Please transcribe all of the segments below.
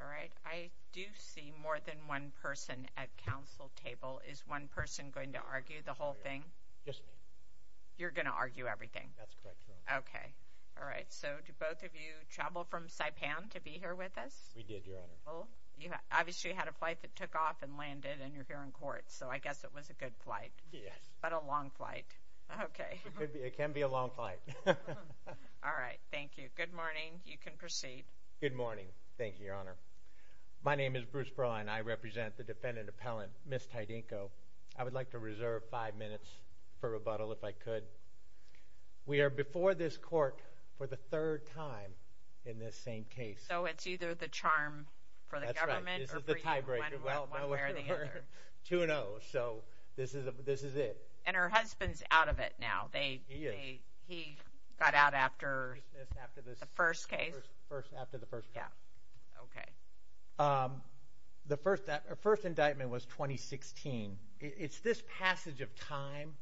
All right, I do see more than one person at council table. Is one person going to argue the whole thing? Yes. You're gonna argue everything? That's correct. Okay, all right. So do both of you travel from Saipan to be here with us? We did, Your Honor. Well, you obviously had a flight that took off and landed and you're here in court, so I guess it was a good flight. Yes. But a long flight. Okay. It can be a long flight. All right. Thank you. Good morning. You can proceed. Good morning. Thank you, Your Honor. My name is Bruce Perline. I represent the defendant appellant, Ms. Tydingco. I would like to reserve five minutes for rebuttal, if I could. We are before this court for the third time in this same case. So it's either the charm for the government or for you? That's right. This is the tiebreaker. Well, two and oh. So this is it. And her husband's out of it now. He is. He got out after the first case? After the first case. Yeah. Okay. The first indictment was 2016. It's this passage of time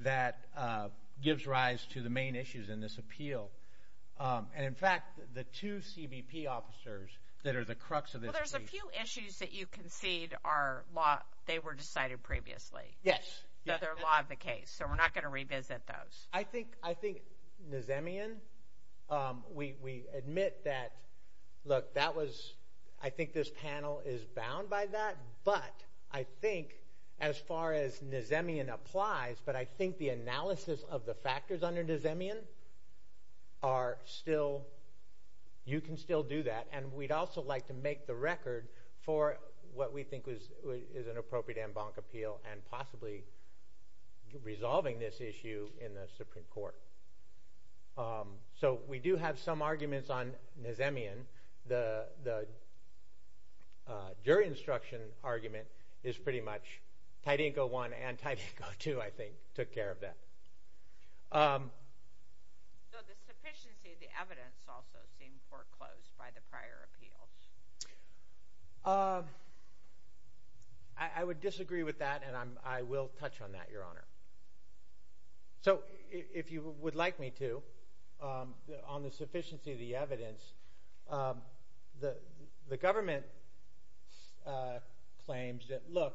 that gives rise to the main issues in this appeal. And in fact, the two CBP officers that are the crux of this case. Well, there's a few issues that you concede are they were decided previously. Yes. They're law of the case. So we're not going to revisit those. I think Nazemian, we admit that, look, that was, I think this panel is bound by that. But I think as far as Nazemian applies, but I think the analysis of the factors under Nazemian are still, you can still do that. And we'd also like to make the record for what we think is an appropriate en banc appeal and possibly resolving this issue in the Supreme Court. So we do have some arguments on Nazemian. The jury instruction argument is pretty much, Tydenko one and Tydenko two, I think, took care of that. Um, so the sufficiency of the evidence also seemed foreclosed by the prior appeals. Um, I would disagree with that, and I will touch on that, Your Honor. So if you would like me to, um, on the sufficiency of the evidence, um, the government, uh, claims that, look,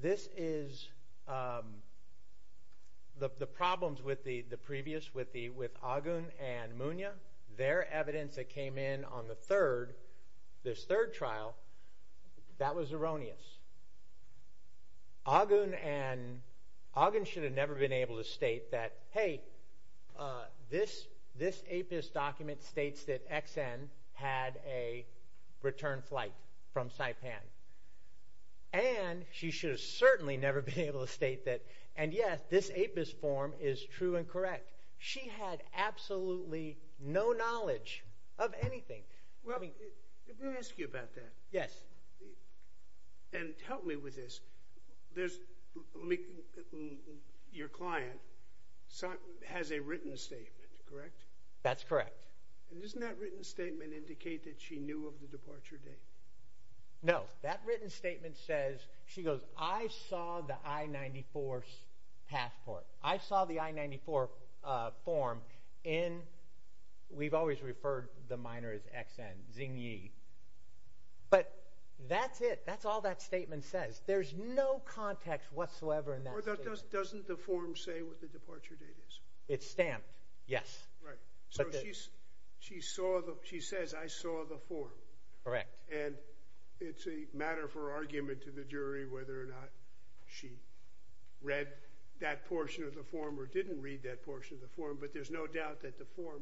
this is, um, the problems with the previous, with Agun and Munya, their evidence that came in on the third, this third trial, that was erroneous. Agun and, Agun should have never been able to state that, hey, uh, this, this APIS document states that Exxon had a return flight from Saipan. And she should have certainly never been able to state that. And yes, this APIS form is true and correct. She had absolutely no knowledge of anything. Well, let me ask you about that. Yes. And help me with this. There's your client has a written statement, correct? That's correct. And isn't that written statement indicate that she knew of the I-94 passport? I saw the I-94, uh, form in, we've always referred the minor as Exxon, Xinyi. But that's it. That's all that statement says. There's no context whatsoever in that. Doesn't the form say what the departure date is? It's stamped. Yes. Right. So she's, she saw the, she says, I saw the form. Correct. And it's a matter for argument to the jury whether or not she read that portion of the form or didn't read that portion of the form. But there's no doubt that the form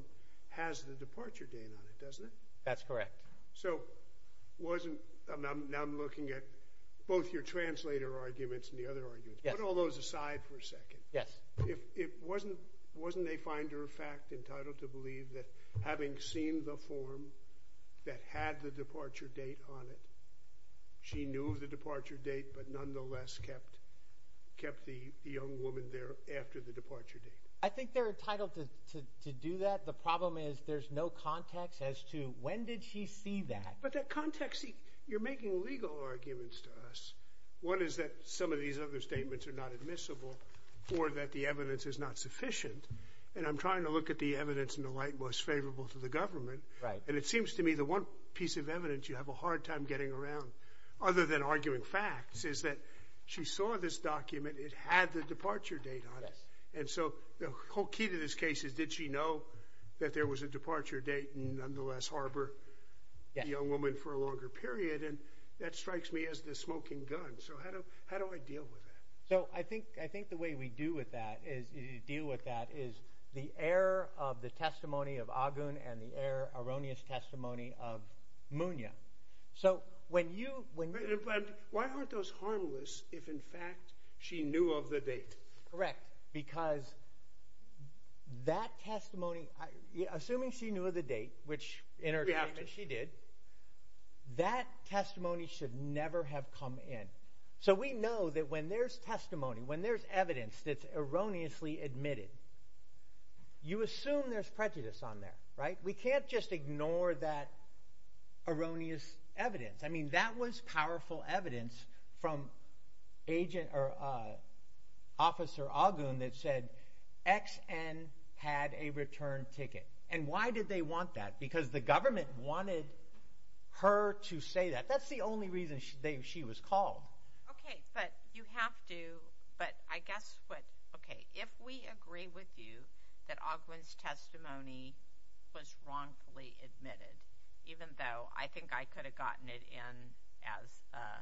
has the departure date on it, doesn't it? That's correct. So wasn't, now I'm looking at both your translator arguments and the other arguments. Put all those aside for a second. Yes. If it wasn't, wasn't a finder of fact entitled to believe that having seen the form that had the departure date on it, she knew of the departure date, but nonetheless kept, kept the, the young woman there after the departure date. I think they're entitled to, to, to do that. The problem is there's no context as to when did she see that. But that context, you're making legal arguments to us. One is that some of these other statements are not admissible or that the evidence is not sufficient. And I'm trying to look at the evidence in the light most favorable to the government. Right. And it seems to me the one piece of evidence you have a hard time getting around, other than arguing facts, is that she saw this document. It had the departure date on it. And so the whole key to this case is did she know that there was a departure date and nonetheless harbor the young woman for a longer period. And that strikes me as the smoking gun. So how do, how do I deal with that? So I think, I think the way we do with that is, deal with that is the error of the testimony of Agun and the error, erroneous testimony of Munoz. So when you, when you. But why aren't those harmless if in fact she knew of the date? Correct. Because that testimony, assuming she knew of the date, which in her case she did, that testimony should never have come in. So we know that when there's testimony, when there's evidence that's can't just ignore that erroneous evidence. I mean, that was powerful evidence from agent or officer Agun that said XN had a return ticket. And why did they want that? Because the government wanted her to say that. That's the only reason she was called. Okay, but you have to, but I guess what, okay, if we was wrongfully admitted, even though I think I could have gotten it in as a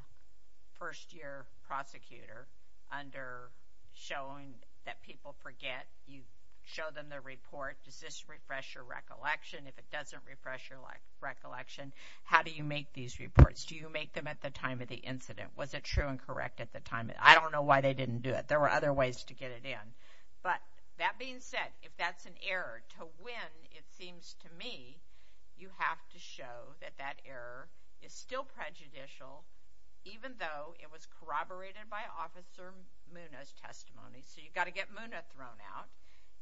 first-year prosecutor, under showing that people forget, you show them the report, does this refresh your recollection? If it doesn't refresh your recollection, how do you make these reports? Do you make them at the time of the incident? Was it true and correct at the time? I don't know why they didn't do it. There were other ways to get it in. But that being said, if that's an error to win, it seems to me you have to show that that error is still prejudicial, even though it was corroborated by Officer Munna's testimony. So you've got to get Munna thrown out.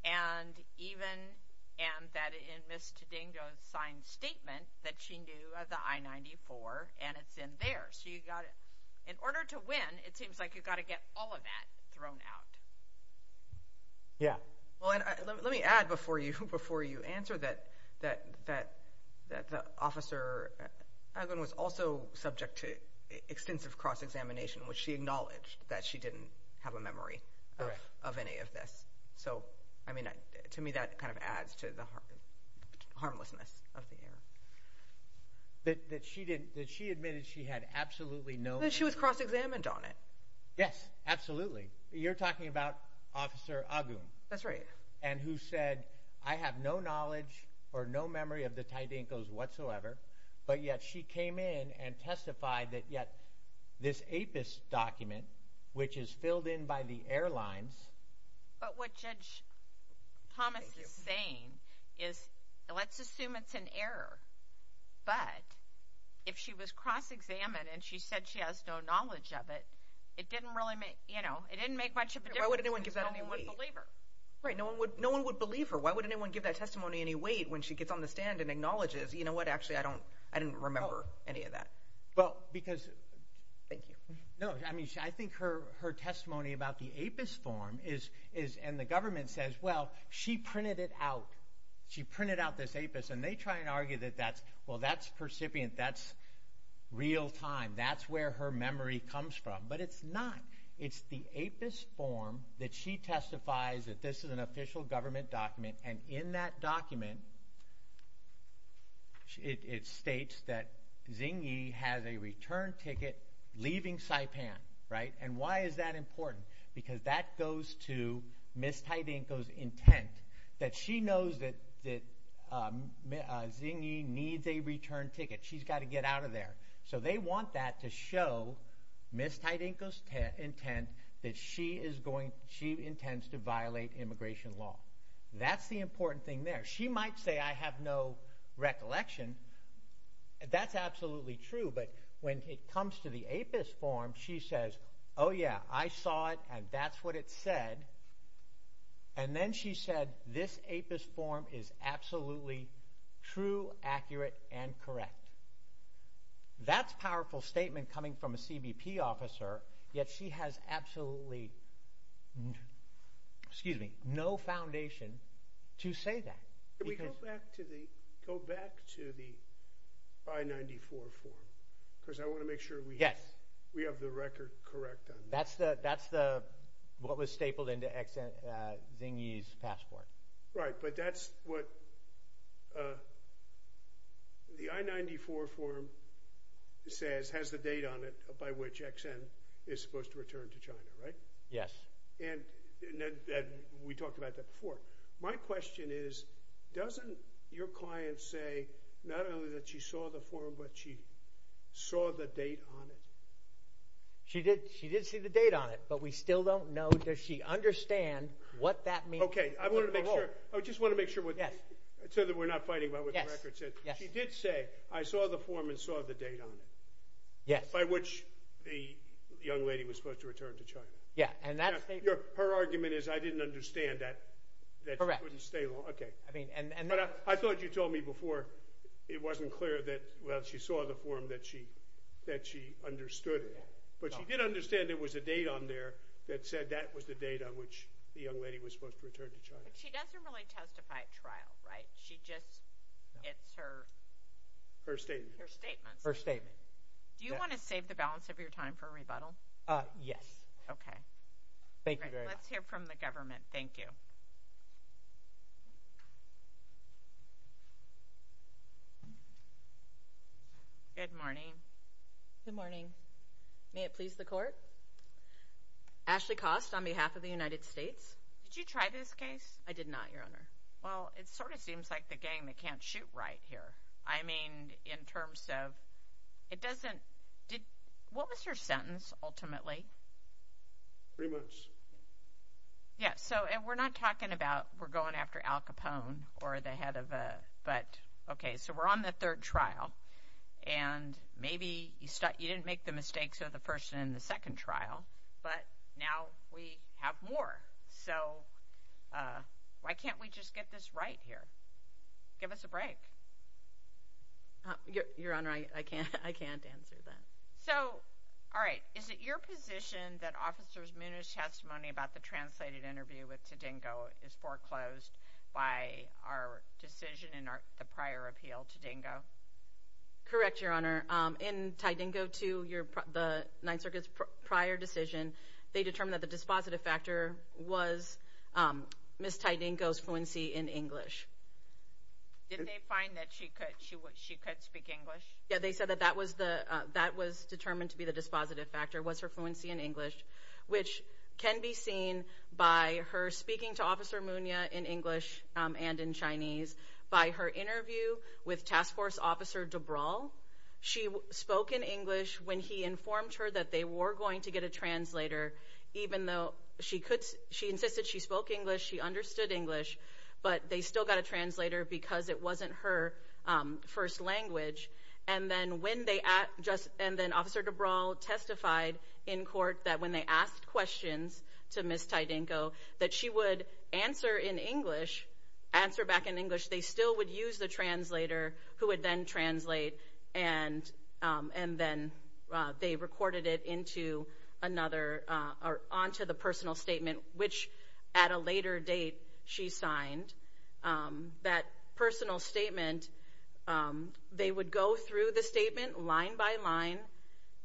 And even, and that in Ms. Tedingo's signed statement that she knew of the I-94, and it's in there. So you got it. In order to win, it seems like you've got all of that thrown out. Yeah. Well, and let me add before you before you answer that that that that the officer was also subject to extensive cross-examination, which she acknowledged that she didn't have a memory of any of this. So, I mean, to me that kind of adds to the harmlessness of the error. That she didn't, that she admitted she had absolutely no memory. That she was cross-examined on it. Yes, absolutely. You're talking about Officer Agun. That's right. And who said, I have no knowledge or no memory of the Tedinkos whatsoever, but yet she came in and testified that yet this APIS document, which is filled in by the airlines. But what Judge Thomas is saying is, let's assume it's an error, but if she was cross-examined and she said she has no knowledge of it, it didn't really make, you know, it didn't make much of a difference. Why would anyone give that any weight? Because no one would believe her. Right, no one would, no one would believe her. Why would anyone give that testimony any weight when she gets on the stand and acknowledges, you know what, actually, I don't, I didn't remember any of that. Well, because, thank you. No, I mean, I think her testimony about the APIS form is, and the government says, well, she printed it out. She printed out this APIS, and they try and argue that that's, well, that's percipient, that's real-time, that's where her memory comes from. But it's not. It's the APIS form that she testifies that this is an official government document, and in that document, it states that Xinyi has a return ticket leaving Saipan, right? And why is that important? Because that goes to Ms. Taitenko's intent, that she knows that Xinyi needs a return ticket. She's got to get out of there. So they want that to show Ms. Taitenko's intent that she is going, she intends to violate immigration law. That's the important thing there. She might say, I have no recollection. That's absolutely true, but when it comes to the APIS form, she says, oh yeah, I saw it, and that's what it said. And then she said, this APIS form is absolutely true, accurate, and correct. That's a powerful statement coming from a CBP officer, yet she has absolutely, excuse me, no foundation to say that. Can we go back to the 594 form? Because I want to make sure we have the record correct. That's what was stapled into Xinyi's passport. Right, but that's what the I-94 form says has the date on it by which XN is supposed to return to China, right? Yes. And we talked about that before. My question is, doesn't your client say not only that she saw the form, but she saw the date on it? She did see the date on it, but we still don't know, does she understand what that means? Okay, I want to make sure, I just want to make sure so that we're not fighting about what the record says. She did say, I saw the form and saw the date on it. Yes. By which the young lady was supposed to return to China. Yeah, and that statement. Her argument is, I didn't understand that. Correct. Okay, I thought you told me before, it wasn't clear that, well, she saw the form that she understood it, but she did understand there was a date on there that said that was the date on which the young lady was supposed to return to China. She doesn't really testify at trial, right? She just, it's her statement. Her statement. Do you want to save the balance of your time for a rebuttal? Yes. Okay. Thank you very much. Let's hear from the government. Thank you. Good morning. Good morning. May it please the court. Ashley Cost, on behalf of the United States. Did you try this case? I did not, Your Honor. Well, it sort of seems like the gang that can't shoot right here. I mean, in terms of, it doesn't, did, what was your sentence, ultimately? Three months. Yeah, so, and we're not talking about, we're going after Al Capone or the head of a, but, okay, so we're on the third trial, and maybe you start, you didn't make the mistakes of the person in the second trial, but now we have more. So, why can't we just get this right here? Give us a break. Your Honor, I can't, I can't answer that. So, all right, is it your position that Officers Munoz's testimony about the translated interview with Tadingo is foreclosed by our decision in our, the prior appeal, Tadingo? Correct, Your Honor. In Tadingo, to your, the Ninth Circuit's prior decision, they determined that the dispositive factor was Ms. Tadingo's fluency in English. Did they find that she could, she could speak English? Yeah, they said that that was the, that was determined to be the dispositive factor, was her fluency in English, by her speaking to Officer Munoz in English and in Chinese, by her interview with Task Force Officer DeBrawl. She spoke in English when he informed her that they were going to get a translator, even though she could, she insisted she spoke English, she understood English, but they still got a translator because it wasn't her first language. And then when they, and then Officer DeBrawl testified in court that when they asked questions to Ms. Tadingo, that she would answer in English, answer back in English, they still would use the translator, who would then translate, and, and then they recorded it into another, or onto the personal statement, which at a later date, she signed. That personal statement, they would go through the statement line by line,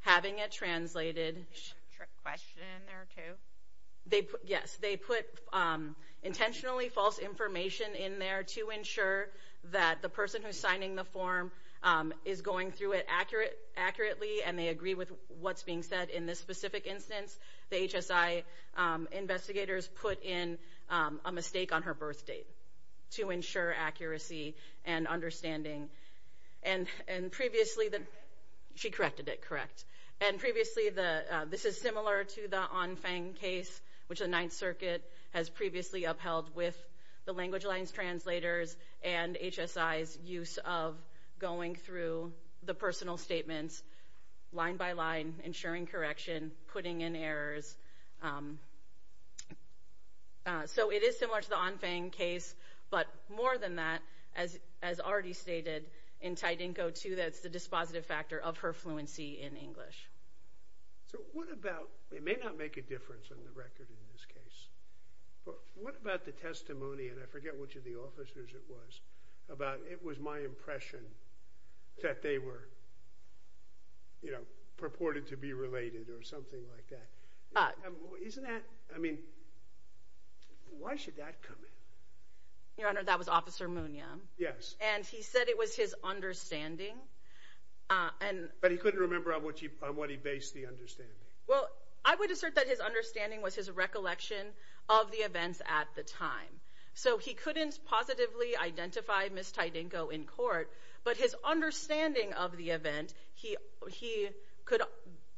having it translated. They put a trick question in there, too? They, yes, they put intentionally false information in there to ensure that the person who's signing the form is going through it accurate, accurately, and they agree with what's being said. In this specific instance, the HSI investigators put in a mistake on her birth date, to ensure accuracy and understanding. And, and previously the, she corrected it, correct. And previously the, this is similar to the On Fang case, which the Ninth Circuit has previously upheld with the language lines translators and HSI's use of going through the personal statements, line by line, ensuring correction, putting in errors. So it is similar to the On Fang case, but more than that, as, as already stated, in Tidinko, too, that it's the dispositive factor of her fluency in English. So what about, it may not make a difference on the record in this case, but what about the testimony, and I forget which of the officers it was, about, it was my impression that they were, you know, purported to be related, or something like that. Isn't that, I mean, why should that come in? Your Honor, that was Officer Munoz. Yes. And he said it was his understanding, and. But he couldn't remember on what he, on what he based the understanding. Well, I would assert that his understanding was his recollection of the events at the time. So he couldn't positively identify Ms. Tidinko in court, but his understanding of the event, he, he could,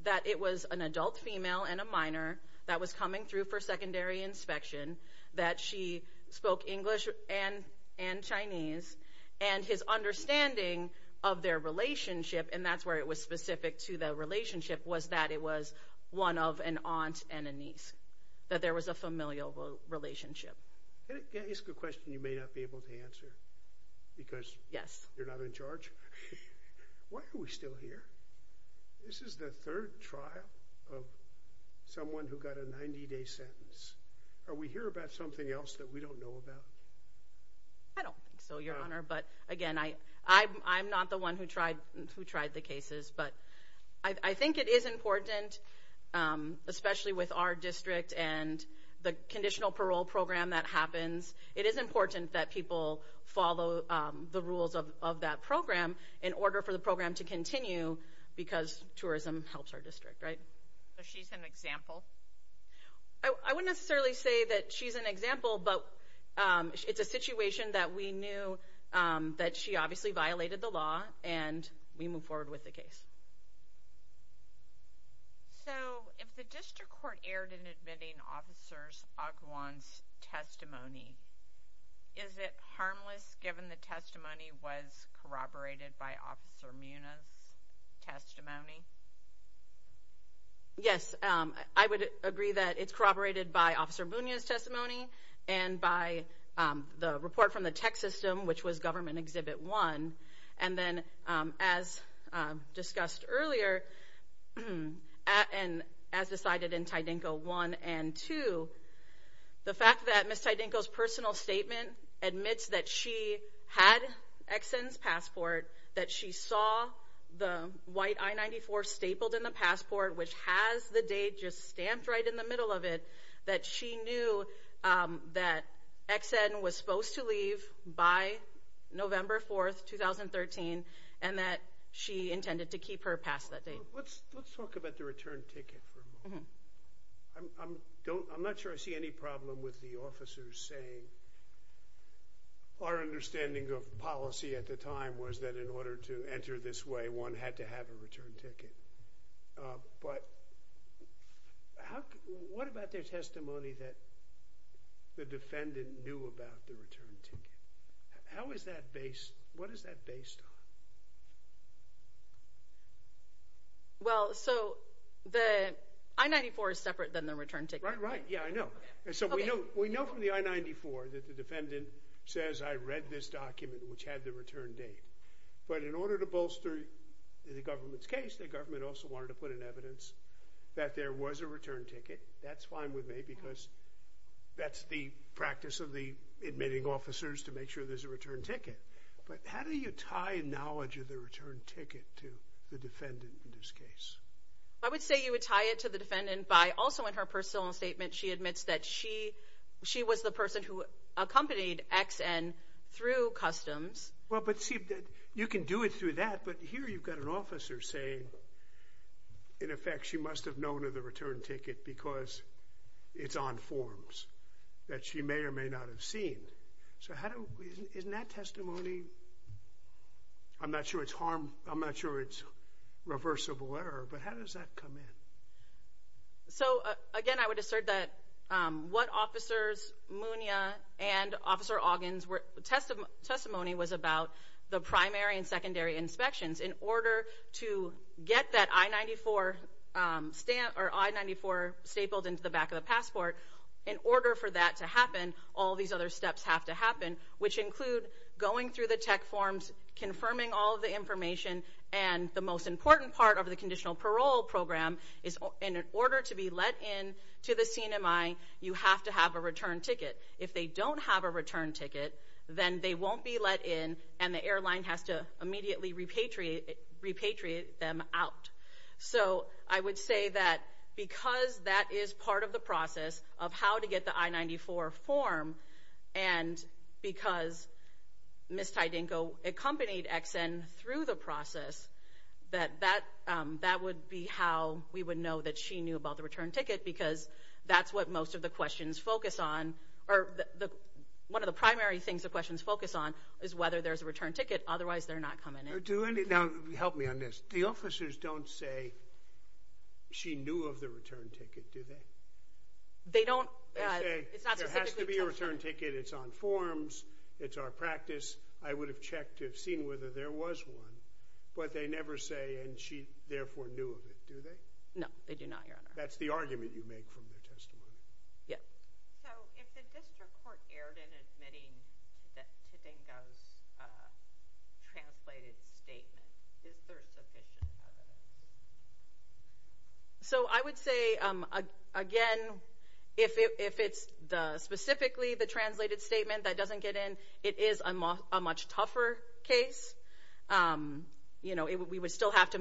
that it was an adult female and a minor that was coming through for secondary inspection, that she spoke English and, and Chinese, and his understanding of their relationship, and that's where it was specific to the relationship, was that it was one of an aunt and a niece, that there was a familial relationship. Can I ask a question you may not be able to answer? Because. Yes. You're not in charge? Why are we still here? This is the third trial of someone who got a 90-day sentence. Are we here about something else that we don't know about? I don't think so, Your Honor, but again, I, I'm, I'm not the one who tried, who tried the cases, but I, I think it is important, especially with our district and the conditional parole program that happens, it is important that people follow the rules of, of that program in order for the program to continue, because tourism helps our district, right? So, she's an example? I, I wouldn't necessarily say that she's an example, but it's a situation that we knew that she obviously violated the law, and we move forward with the case. So, if the district court erred in admitting Officers Aguan's testimony, is it harmless given the testimony was corroborated by Officer Munoz's testimony? Yes, I would agree that it's corroborated by Officer Munoz's testimony and by the report from the tech system, which was Government Exhibit 1. And then, as discussed earlier, and as decided in Tydenko 1 and 2, the fact that Ms. Tydenko's personal statement admits that she had Ex-In's passport, that she saw the white I-94 stapled in the passport, which has the date just stamped right in the middle of it, that she knew that Ex-In was supposed to leave by November 4th, 2013, and that she intended to keep her past that date. Let's, let's talk about the return ticket for a moment. I'm, I'm don't, I'm not sure I see any problem with the officers saying, our understanding of policy at the time was that in order to enter this way, one had to have a return ticket. But, how, what about their testimony that the defendant knew about the return ticket? How is that based, what is that based on? Well, so, the I-94 is separate than the return ticket. Right, right, yeah, I know. And so, we know, we know from the I-94 that the defendant says, I read this document, which had the return date. But, in order to bolster the government's case, the government also wanted to put in evidence that there was a return ticket. That's fine with me, because that's the practice of the admitting officers, to make sure there's a return ticket to the defendant in this case. I would say you would tie it to the defendant by, also in her personal statement, she admits that she, she was the person who accompanied XN through customs. Well, but see, you can do it through that, but here you've got an officer saying, in effect, she must have known of the return ticket because it's on forms that she may or may not have seen. So, how do, isn't that testimony, I'm not sure it's harm, I'm not sure it's reversible error, but how does that come in? So, again, I would assert that what officers, Munia and Officer Oggins were, testimony was about the primary and secondary inspections. In order to get that I-94 stamp, or I-94 stapled into the back of the passport, in order for that to happen, these other steps have to happen, which include going through the tech forms, confirming all the information, and the most important part of the conditional parole program is, in order to be let in to the CNMI, you have to have a return ticket. If they don't have a return ticket, then they won't be let in, and the airline has to immediately repatriate, repatriate them out. So, I would say that because that is part of the process of how to get the I-94 form, and because Ms. Tydenko accompanied Ex-In through the process, that that, that would be how we would know that she knew about the return ticket, because that's what most of the questions focus on, or the, one of the primary things the questions focus on is whether there's a return ticket, otherwise they're not coming in. Now, help me on this. The officers don't say she knew of the return ticket, do they? They don't. There has to be a return ticket. It's on forms. It's our practice. I would have checked to have seen whether there was one, but they never say, and she therefore knew of it, do they? No, they do not, Your Honor. That's the argument you make from their testimony. Yeah. So, if the district court erred in admitting that Tydenko's translated statement, is there sufficient evidence? So, I would say, again, if it's the, specifically the translated statement that doesn't get in, it is a much tougher case. You know, we would still have to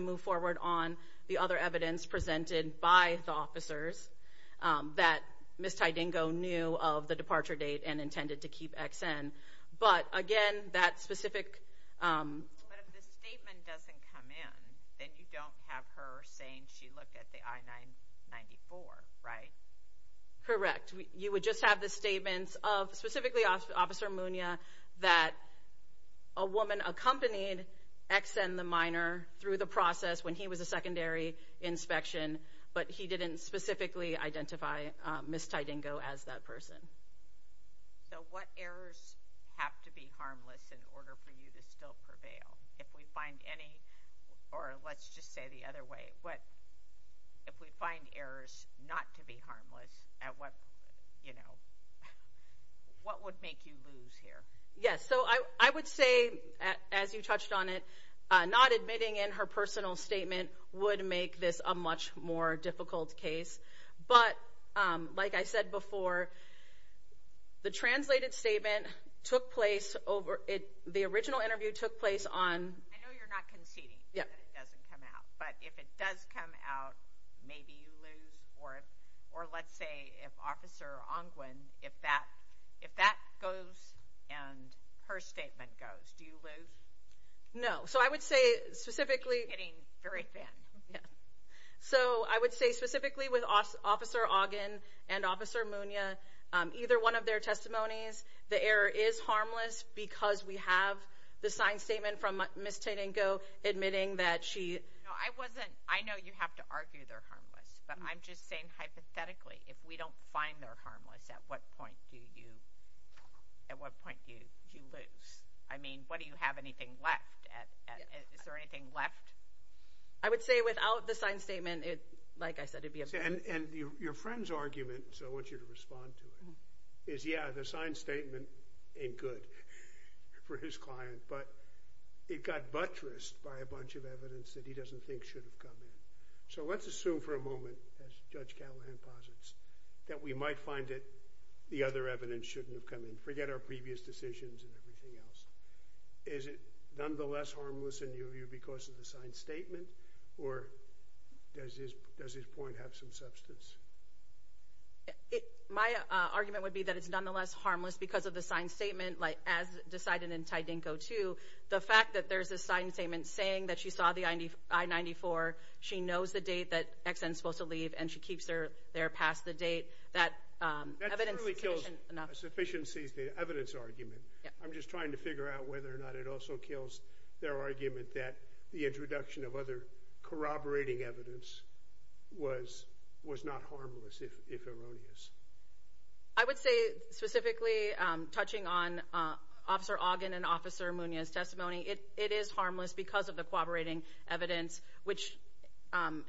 Ms. Tydenko knew of the departure date and intended to keep XN, but again, that specific... But if the statement doesn't come in, then you don't have her saying she looked at the I-994, right? Correct. You would just have the statements of, specifically, Officer Munia, that a woman accompanied XN, the minor, through the process when he was a secondary inspection, but he didn't specifically identify Ms. Tydenko as that person. So, what errors have to be harmless in order for you to still prevail? If we find any, or let's just say the other way, if we find errors not to be harmless, what would make you lose here? Yes. So, I would say, as you touched on it, not admitting in her personal statement would make this a much more difficult case, but like I said before, the translated statement took place over... The original interview took place on... I know you're not conceding that it doesn't come out, but if it does come out, maybe you lose, or let's say if Officer Angwin, if that goes and her statement goes, do you lose? No. So, I would say, specifically... Getting very thin. Yeah. So, I would say, specifically, with Officer Ogden and Officer Munia, either one of their testimonies, the error is harmless because we have the signed statement from Ms. Tydenko admitting that she... No, I wasn't... I know you have to argue they're harmless, but I'm just saying, hypothetically, if we don't find they're harmless, is there anything left? Is there anything left? I would say without the signed statement, like I said, it'd be a... And your friend's argument, so I want you to respond to it, is, yeah, the signed statement ain't good for his client, but it got buttressed by a bunch of evidence that he doesn't think should have come in. So, let's assume for a moment, as Judge Callahan posits, that we might find that the other evidence shouldn't have come in. Forget our previous decisions and everything else. Is it nonetheless harmless, in your view, because of the signed statement, or does his point have some substance? My argument would be that it's nonetheless harmless because of the signed statement, as decided in Tydenko, too. The fact that there's a signed statement saying that she saw the I-94, she knows the date that Exxon's supposed to leave, and she keeps their past the date, that evidence... That truly kills sufficiency, the evidence argument. I'm just trying to figure out whether or not it also kills their argument that the introduction of other corroborating evidence was not harmless, if erroneous. I would say, specifically, touching on Officer Ogden and Officer Munoz's testimony, it is harmless because of the corroborating evidence, which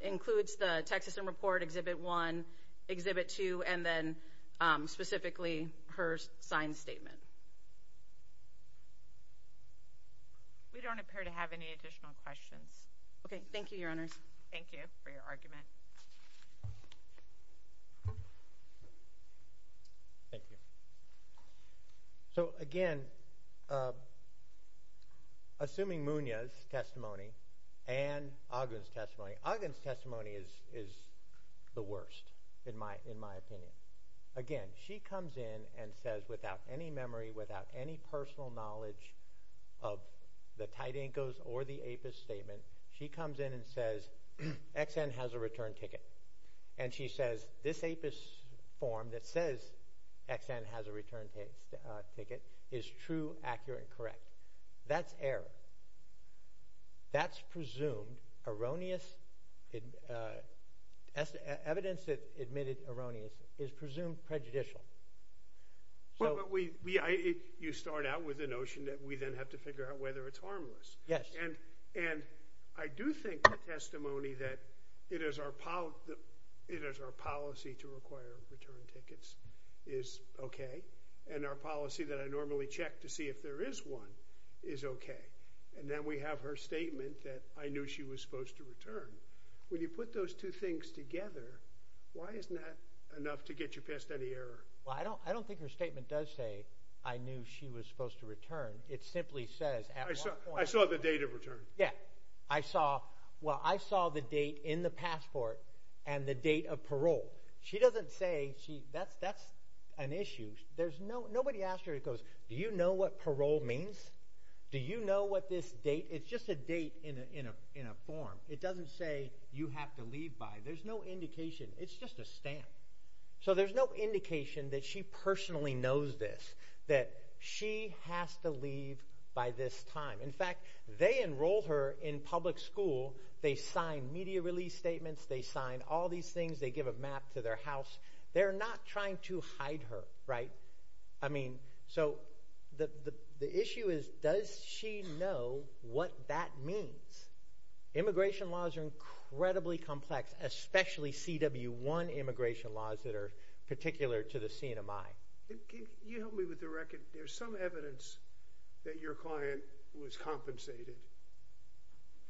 includes the Texas M Report Exhibit 1, Exhibit 2, and then, specifically, her signed statement. We don't appear to have any additional questions. Okay. Thank you, Your Honors. Thank you for your argument. Thank you. So, again, assuming Munoz's testimony and Ogden's testimony... Ogden's testimony is the worst, in my opinion. Again, she comes in and says, without any memory, without any personal knowledge of the Tydenkos or the APIS statement, she comes in and says, Exxon has a return ticket. And she says, this APIS form that says Exxon has a return ticket is true, accurate, and correct. That's error. That's presumed erroneous. Evidence that admitted erroneous is presumed prejudicial. You start out with the notion that we then have to figure out whether it's harmless. Yes. And I do think the testimony that it is our policy to require return tickets is okay, and our policy that I normally check to see if there is one is okay. And then we have her statement that I knew she was supposed to return. When you put those two things together, why isn't that enough to get you past any error? Well, I don't think her statement does say, I knew she was supposed to return. It simply says at one point... I saw the date of return. Yeah. I saw... Well, I saw the date in the passport and the date of parole. She doesn't say she... That's an issue. Nobody asked her, it goes, do you know what parole means? Do you know what this date... It's just a date in a form. It doesn't say you have to leave by. There's no indication. It's just a stamp. So there's no indication that she personally knows this, that she has to leave by this time. In fact, they enrolled her in public school. They signed media release statements. They signed all these things. They give a map to their house. They're not trying to hide her, right? I mean, so the issue is, does she know what that means? Immigration laws are incredibly complex, especially CW1 immigration laws that are particular to the CNMI. Can you help me with the record? There's some evidence that your client was compensated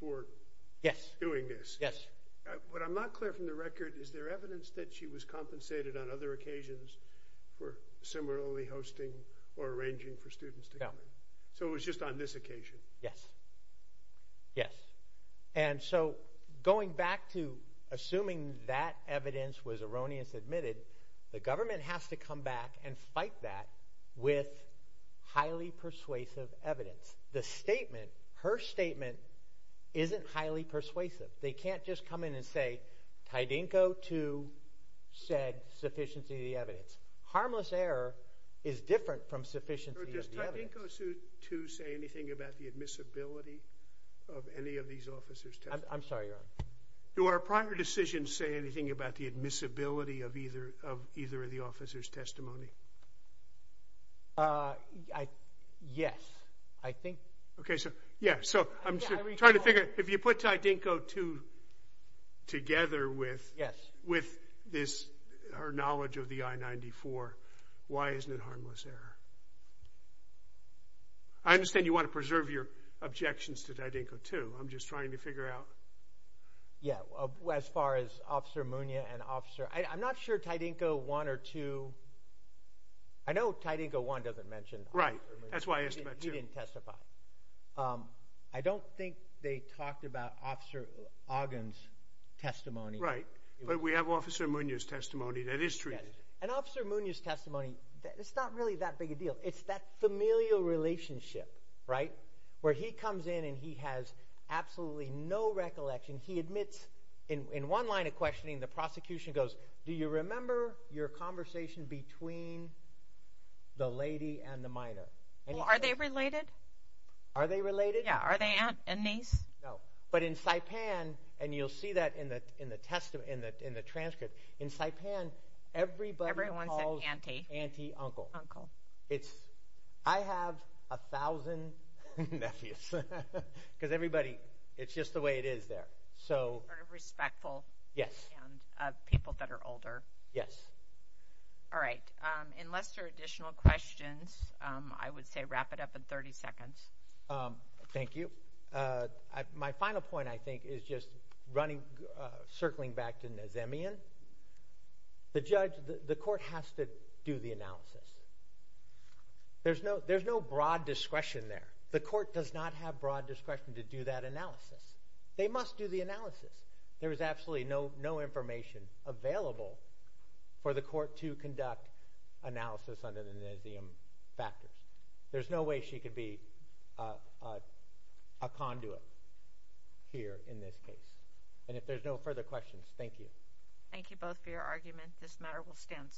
for doing this. Yes. But I'm not clear from the record, is there evidence that she was compensated on other occasions for similarly hosting or arranging for students to come in? So it was just on this occasion? Yes. Yes. And so going back to assuming that evidence was erroneously admitted, the government has to come back and fight that with highly persuasive evidence. The statement, her statement, isn't highly persuasive. They can't just come in and say, Tydenko 2 said sufficiency of the evidence. Harmless error is different from sufficiency of the evidence. Does Tydenko 2 say anything about the admissibility of any of these officers? I'm sorry, Your Honor. Do our prior decisions say anything about the admissibility of either of the officers' testimony? Yes, I think. Okay, so yeah. So I'm trying to figure, if you put Tydenko 2 together with this, her knowledge of the I-94, why isn't it harmless error? I understand you want to preserve your objections to Tydenko 2. I'm just trying to figure out. Yeah, as far as Officer Munia and Officer, I'm not sure Tydenko 1 or 2, I know Tydenko 1 doesn't mention Officer Munia. Right, that's why I asked about 2. He didn't testify. I don't think they talked about Officer Ogden's testimony. Right, but we have Officer Munia's testimony that is true. And Officer Munia's testimony, it's not really that big a deal. It's that familial relationship, right, where he comes in and he has absolutely no recollection. He admits in one line of questioning, the prosecution goes, do you remember your conversation between the lady and the minor? Are they related? Are they related? Yeah, are they aunt and niece? No, but in Saipan, and you'll see that in the transcript, in Saipan, everybody calls Auntie Uncle. It's, I have a thousand nephews, because everybody, it's just the way it is there. Sort of respectful, yes, of people that are older. Yes. All right, unless there are additional questions, I would say wrap it up in 30 seconds. Thank you. My final point, I think, is just running, circling back to Nazemian. The judge, the court has to do the analysis. There's no broad discretion there. The court does not have broad discretion to do that analysis. They must do the analysis. There is absolutely no information available for the court to conduct analysis under the Nazemian factors. There's no way she could be a conduit here in this case. If there's no further questions, thank you. Thank you both for your argument. This matter will stand submitted.